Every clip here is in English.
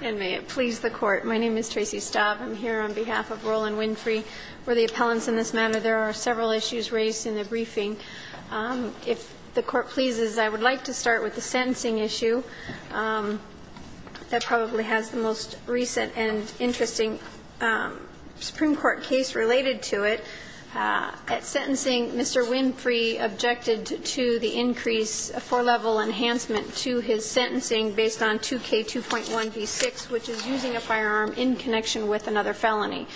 And may it please the Court, my name is Tracy Staub. I'm here on behalf of Roland Winfrey. We're the appellants in this matter. There are several issues raised in the briefing. If the Court pleases, I would like to start with the sentencing issue. That probably has the most recent and interesting Supreme Court case related to it. At sentencing, Mr. Winfrey objected to the increase, a four-level enhancement to his sentencing based on 2K2.1b6, which is using a firearm in connection with another felony.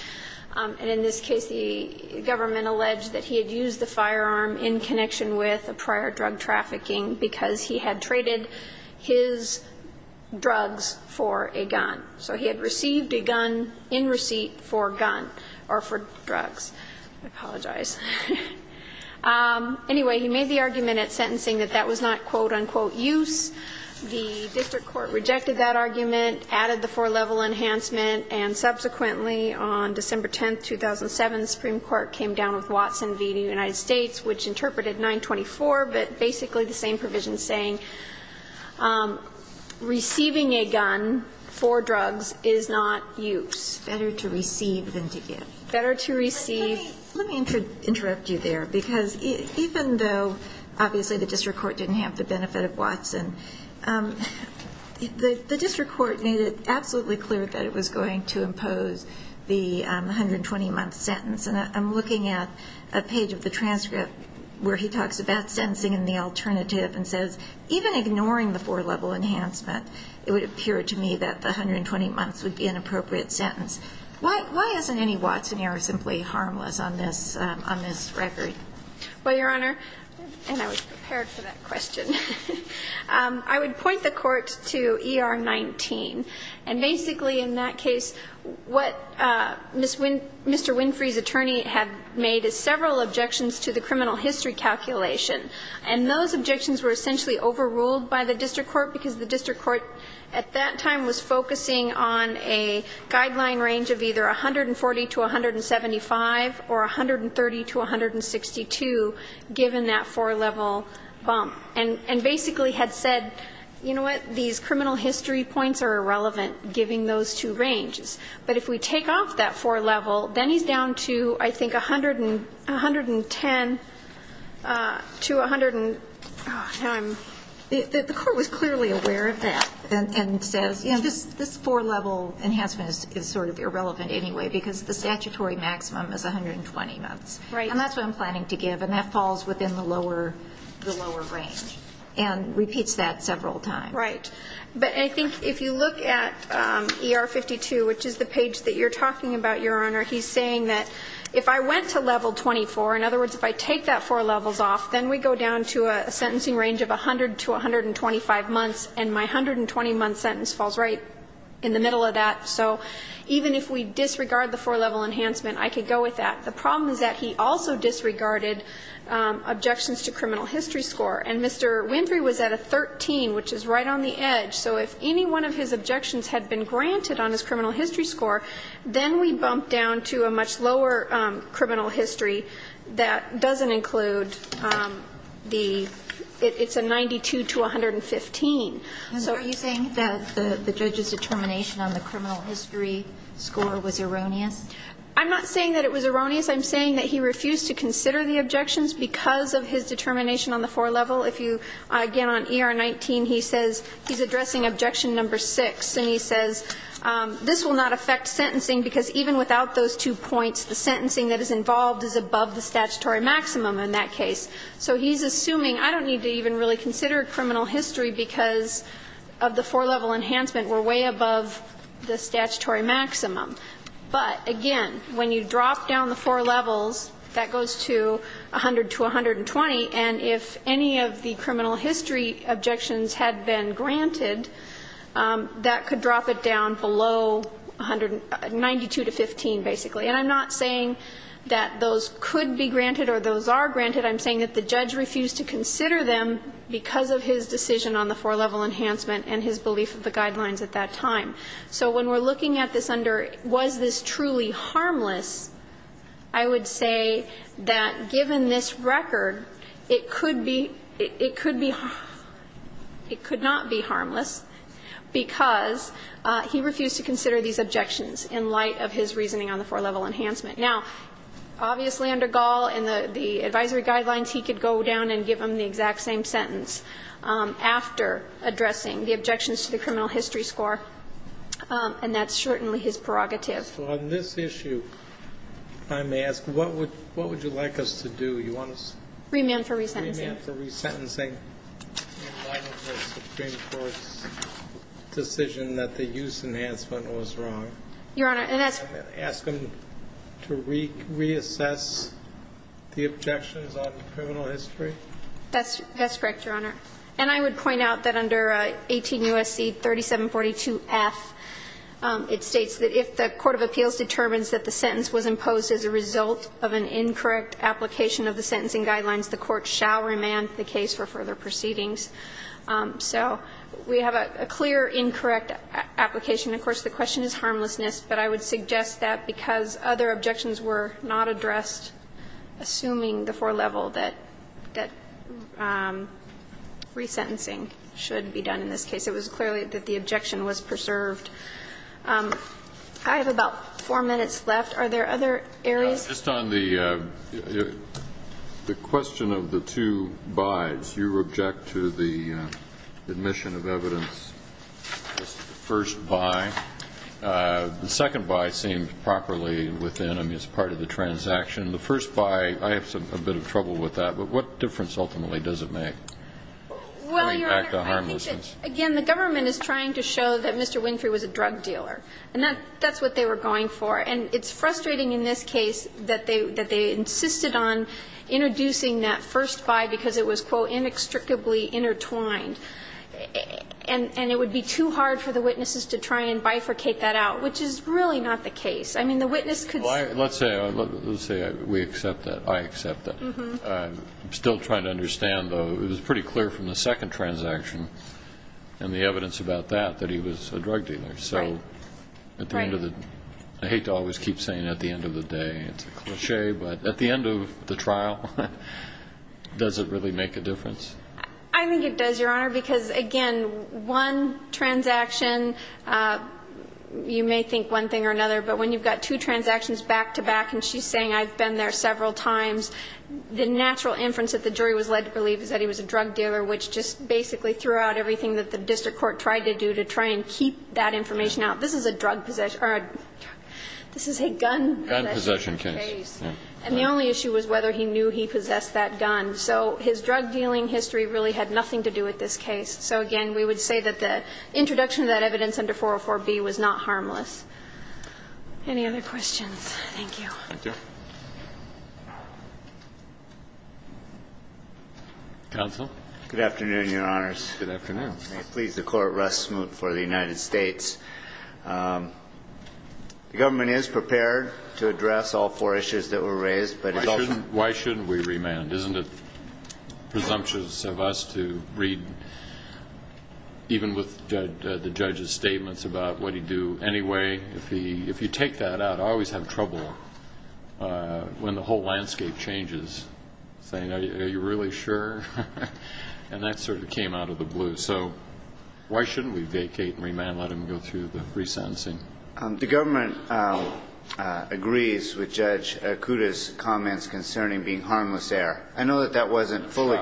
And in this case, the government alleged that he had used the firearm in connection with a prior drug trafficking because he had traded his drugs for a gun. So he had received a gun in receipt for gun or for drugs. I apologize. Anyway, he made the argument at sentencing that that was not quote-unquote use. The district court rejected that argument, added the four-level enhancement, and subsequently on December 10, 2007, the Supreme Court came down with Watson v. United States, which interpreted 924, but basically the same provision saying receiving a gun for drugs is not use. Better to receive than to give. Better to receive. Let me interrupt you there, because even though obviously the district court didn't have the benefit of Watson, the district court made it absolutely clear that it was going to impose the 120-month sentence. And I'm looking at a page of the transcript where he talks about sentencing and the alternative and says, even ignoring the four-level enhancement, it would appear to me that the 120 months would be an appropriate sentence. Why isn't any Watson error simply harmless on this record? Well, Your Honor, and I was prepared for that question, I would point the court to ER-19. And basically in that case, what Mr. Winfrey's attorney had made is several objections to the criminal history calculation. And those objections were essentially overruled by the district court, because the district court at that time was focusing on a guideline range of either 140 to 175 or 130 to 162, given that four-level bump. And basically had said, you know what, these criminal history points are irrelevant giving those two ranges. But if we take off that four-level, then he's down to, I think, 110 to 100 and now I'm the court was clearly aware of that. And says, you know, this four-level enhancement is sort of irrelevant anyway, because the statutory maximum is 120 months. Right. And that's what I'm planning to give. And that falls within the lower range. And repeats that several times. Right. But I think if you look at ER-52, which is the page that you're talking about, Your Honor, he's saying that if I went to level 24, in other words, if I take that four levels off, then we go down to a sentencing range of 100 to 125 months, and my 120-month sentence falls right in the middle of that. So even if we disregard the four-level enhancement, I could go with that. The problem is that he also disregarded objections to criminal history score. And Mr. Winfrey was at a 13, which is right on the edge. So if any one of his objections had been granted on his criminal history score, then we bump down to a much lower criminal history that doesn't include the 92 to 115. So you're saying that the judge's determination on the criminal history score was erroneous? I'm not saying that it was erroneous. I'm saying that he refused to consider the objections because of his determination on the four-level. If you, again, on ER-19, he says he's addressing objection number 6, and he says this will not affect sentencing because even without those two points, the sentencing that is involved is above the statutory maximum in that case. So he's assuming I don't need to even really consider criminal history because of the four-level enhancement. We're way above the statutory maximum. But, again, when you drop down the four levels, that goes to 100 to 120. And if any of the criminal history objections had been granted, that could drop it down below 100, 92 to 15, basically. And I'm not saying that those could be granted or those are granted. I'm saying that the judge refused to consider them because of his decision on the four-level enhancement and his belief of the guidelines at that time. So when we're looking at this under was this truly harmless, I would say that given this record, it could be, it could be, it could not be harmless because he refused to consider these objections in light of his reasoning on the four-level enhancement. Now, obviously, under Gall and the advisory guidelines, he could go down and give them the exact same sentence after addressing the objections to the criminal history score, and that's certainly his prerogative. So on this issue, I may ask, what would you like us to do? You want us to? Remand for resentencing. Remand for resentencing in light of the Supreme Court's decision that the use enhancement was wrong. Your Honor, and that's. Ask him to reassess the objections on the criminal history. That's correct, Your Honor. And I would point out that under 18 U.S.C. 3742F, it states that if the court of appeals determines that the sentence was imposed as a result of an incorrect application of the sentencing guidelines, the court shall remand the case for further proceedings. So we have a clear incorrect application. Of course, the question is harmlessness, but I would suggest that because other resentencing should be done in this case, it was clearly that the objection was preserved. I have about four minutes left. Are there other areas? Just on the question of the two bys, you object to the admission of evidence as the first by. The second by seems properly within, I mean, as part of the transaction. The first by, I have a bit of trouble with that. But what difference ultimately does it make? Well, Your Honor, I think that, again, the government is trying to show that Mr. Winfrey was a drug dealer. And that's what they were going for. And it's frustrating in this case that they insisted on introducing that first by because it was, quote, inextricably intertwined. And it would be too hard for the witnesses to try and bifurcate that out, which is really not the case. I mean, the witness could say. Well, let's say we accept that. I accept that. I'm still trying to understand, though. It was pretty clear from the second transaction and the evidence about that, that he was a drug dealer. Right. I hate to always keep saying at the end of the day. It's a cliche. But at the end of the trial, does it really make a difference? I think it does, Your Honor, because, again, one transaction, you may think one thing or another. But when you've got two transactions back-to-back, and she's saying I've been there several times, the natural inference that the jury was led to believe is that he was a drug dealer, which just basically threw out everything that the district court tried to do to try and keep that information out. This is a drug possession or a drug possession. This is a gun possession case. Gun possession case. And the only issue was whether he knew he possessed that gun. So his drug dealing history really had nothing to do with this case. So, again, we would say that the introduction of that evidence under 404B was not harmless. Any other questions? Thank you. Thank you. Counsel. Good afternoon, Your Honors. Good afternoon. May it please the Court, Russ Smoot for the United States. The government is prepared to address all four issues that were raised. Why shouldn't we remand? Isn't it presumptuous of us to read, even with the judge's statements, about what he'd do anyway? If you take that out, I always have trouble when the whole landscape changes, saying, are you really sure? And that sort of came out of the blue. So why shouldn't we vacate and remand, let him go through the resentencing? The government agrees with Judge Kuda's comments concerning being harmless there. I know that that wasn't fully.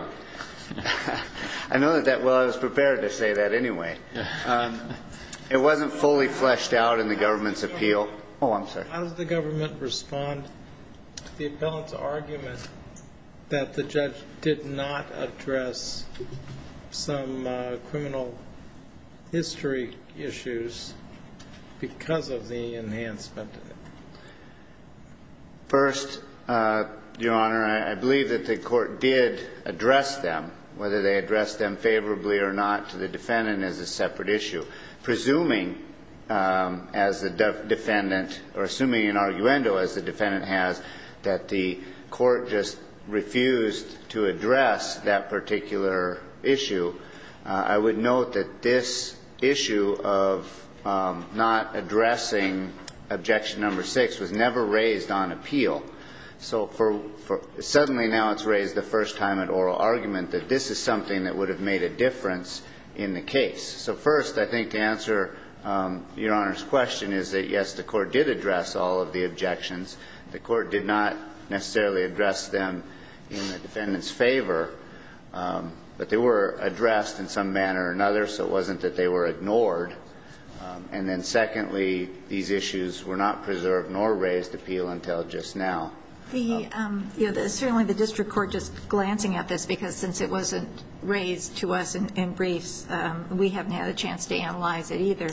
Well, I was prepared to say that anyway. It wasn't fully fleshed out in the government's appeal. Oh, I'm sorry. How does the government respond to the appellant's argument that the judge did not address some criminal history issues because of the enhancement? First, Your Honor, I believe that the Court did address them, whether they addressed them favorably or not, to the defendant as a separate issue. Presuming, as the defendant or assuming an arguendo, as the defendant has, that the Court just refused to address that particular issue, I would note that this issue of not addressing objection number six was never raised on appeal. So suddenly now it's raised the first time at oral argument that this is something that would have made a difference in the case. So, first, I think to answer Your Honor's question is that, yes, the Court did address all of the objections. The Court did not necessarily address them in the defendant's favor. But they were addressed in some manner or another, so it wasn't that they were ignored. And then, secondly, these issues were not preserved nor raised appeal until just Certainly the district court just glancing at this, because since it wasn't raised to us in briefs, we haven't had a chance to analyze it either.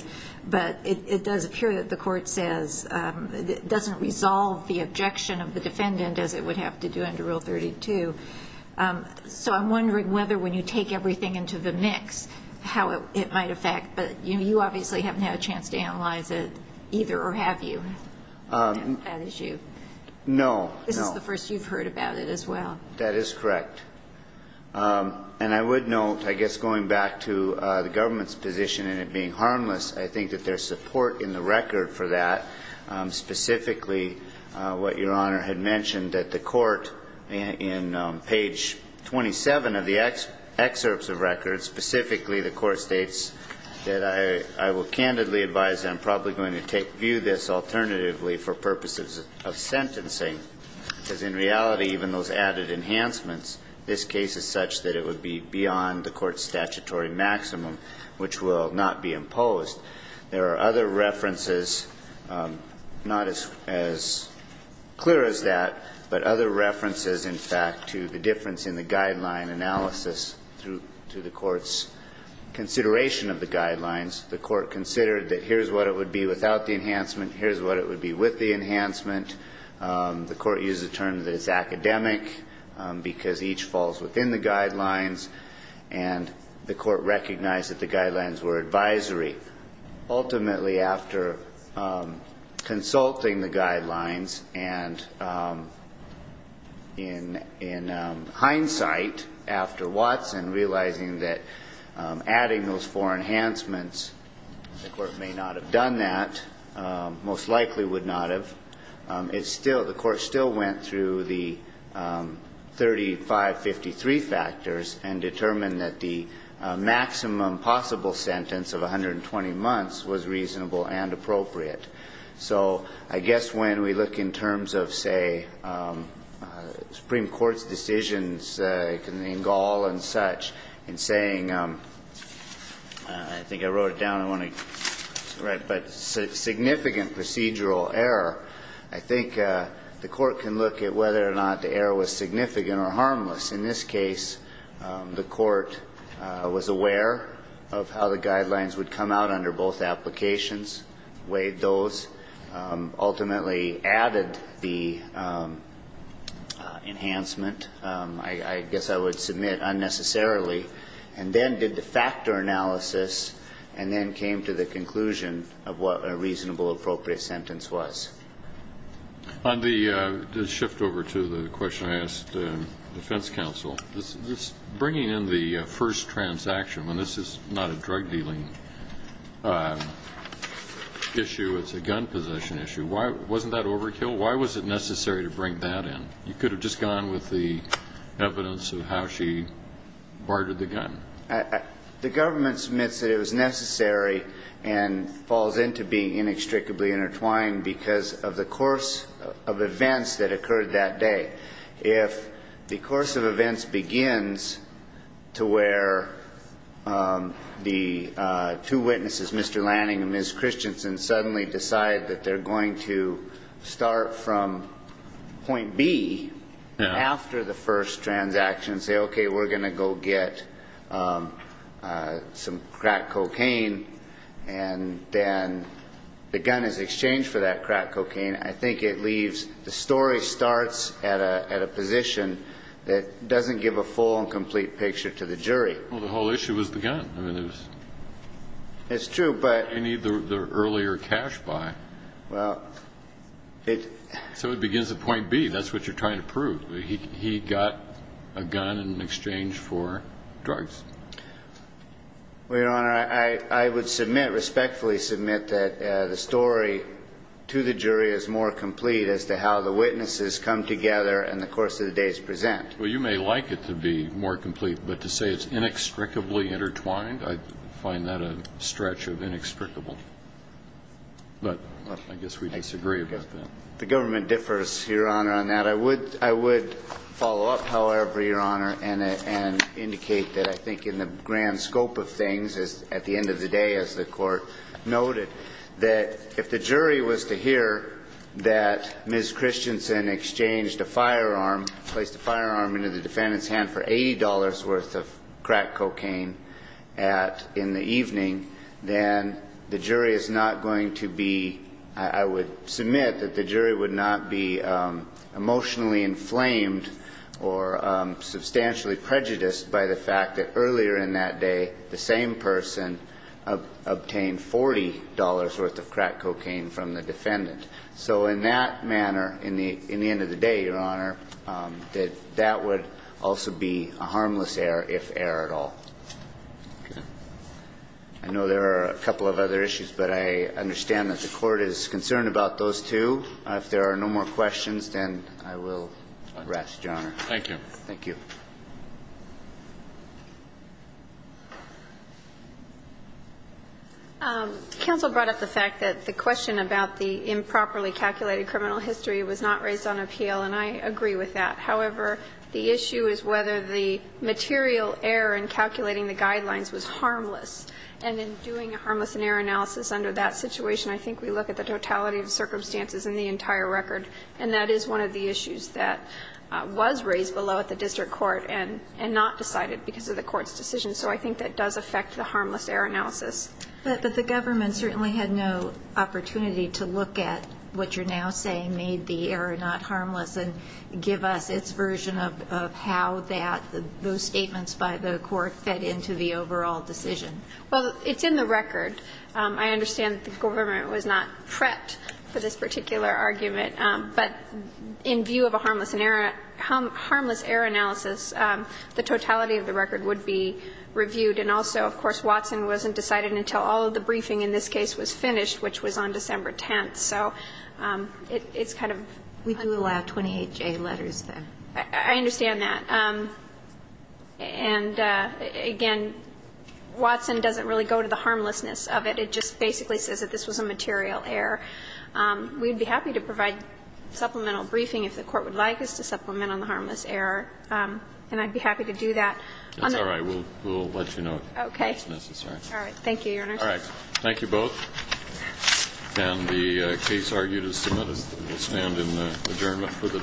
But it does appear that the Court says it doesn't resolve the objection of the defendant as it would have to do under Rule 32. So I'm wondering whether when you take everything into the mix how it might affect. But you obviously haven't had a chance to analyze it either, or have you, that issue? No. This is the first you've heard about it as well. That is correct. And I would note, I guess going back to the government's position in it being harmless, I think that there's support in the record for that, specifically what Your Honor had mentioned, that the Court in page 27 of the excerpts of records, specifically the Court states that I will candidly advise that I'm probably going to view this alternatively for purposes of sentencing. Because in reality, even those added enhancements, this case is such that it would be beyond the Court's statutory maximum, which will not be imposed. There are other references, not as clear as that, but other references, in fact, to the difference in the guideline analysis to the Court's consideration of the guidelines. The Court considered that here's what it would be without the enhancement, here's what it would be with the enhancement. The Court used the term that it's academic, because each falls within the guidelines. And the Court recognized that the guidelines were advisory. Ultimately, after consulting the guidelines, and in hindsight, after Watson, realizing that adding those four enhancements, the Court may not have done that, most likely would not have, the Court still went through the 3553 factors and determined that the maximum possible sentence of 120 months was reasonable and appropriate. So I guess when we look in terms of, say, Supreme Court's decisions in Gall and such, in saying, I think I wrote it down, I want to write, but significant procedural error, I think the Court can look at whether or not the error was significant or harmless. In this case, the Court was aware of how the guidelines would come out under both applications, weighed those, ultimately added the enhancement. I guess I would submit unnecessarily, and then did the factor analysis and then came to the conclusion of what a reasonable appropriate sentence was. On the shift over to the question I asked the defense counsel, bringing in the first transaction, when this is not a drug dealing issue, it's a gun possession issue, wasn't that overkill? Why was it necessary to bring that in? You could have just gone with the evidence of how she bartered the gun. The government submits that it was necessary and falls into being inextricably intertwined because of the course of events that occurred that day. If the course of events begins to where the two witnesses, Mr. Lanning and Ms. Christensen, suddenly decide that they're going to start from point B after the first transaction, say, okay, we're going to go get some crack cocaine, and then the gun is exchanged for that crack cocaine, I think it leaves, the story starts at a position that doesn't give a full and complete picture to the jury. Well, the whole issue was the gun. I mean, it was. It's true, but. You need the earlier cash buy. Well, it. So it begins at point B. That's what you're trying to prove. He got a gun in exchange for drugs. Well, Your Honor, I would submit, respectfully submit, that the story to the jury is more complete as to how the witnesses come together and the course of the days present. Well, you may like it to be more complete, but to say it's inextricably intertwined, I find that a stretch of inextricable. But I guess we disagree about that. The government differs, Your Honor, on that. I would follow up, however, Your Honor, and indicate that I think in the grand scope of things, at the end of the day, as the court noted, that if the jury was to hear that Ms. Christensen exchanged a firearm, placed a firearm into the defendant's hand for $80 worth of crack cocaine in the evening, then the jury is not going to be, I would submit, that the jury would not be emotionally inflamed or substantially prejudiced by the fact that earlier in that day, the same person obtained $40 worth of crack cocaine from the defendant. So in that manner, in the end of the day, Your Honor, that that would also be a harmless error, if error at all. Okay. I know there are a couple of other issues, but I understand that the Court is concerned about those two. If there are no more questions, then I will rest, Your Honor. Thank you. Thank you. Counsel brought up the fact that the question about the improperly calculated criminal history was not raised on appeal, and I agree with that. However, the issue is whether the material error in calculating the guidelines was harmless, and in doing a harmless error analysis under that situation, I think we look at the totality of circumstances in the entire record, and that is one of the issues that was raised below at the district court and not decided because of the Court's decision. So I think that does affect the harmless error analysis. But the government certainly had no opportunity to look at what you're now saying made the error not harmless and give us its version of how that, how those statements by the Court fed into the overall decision. Well, it's in the record. I understand that the government was not prepped for this particular argument, but in view of a harmless error analysis, the totality of the record would be reviewed. And also, of course, Watson wasn't decided until all of the briefing in this case was finished, which was on December 10th. So it's kind of. We do allow 28-J letters, though. I understand that. And, again, Watson doesn't really go to the harmlessness of it. It just basically says that this was a material error. We'd be happy to provide supplemental briefing if the Court would like us to supplement on the harmless error, and I'd be happy to do that. That's all right. We'll let you know if that's necessary. Okay. All right. Thank you, Your Honor. All right. And the case argued is submitted. We'll stand in adjournment for the day.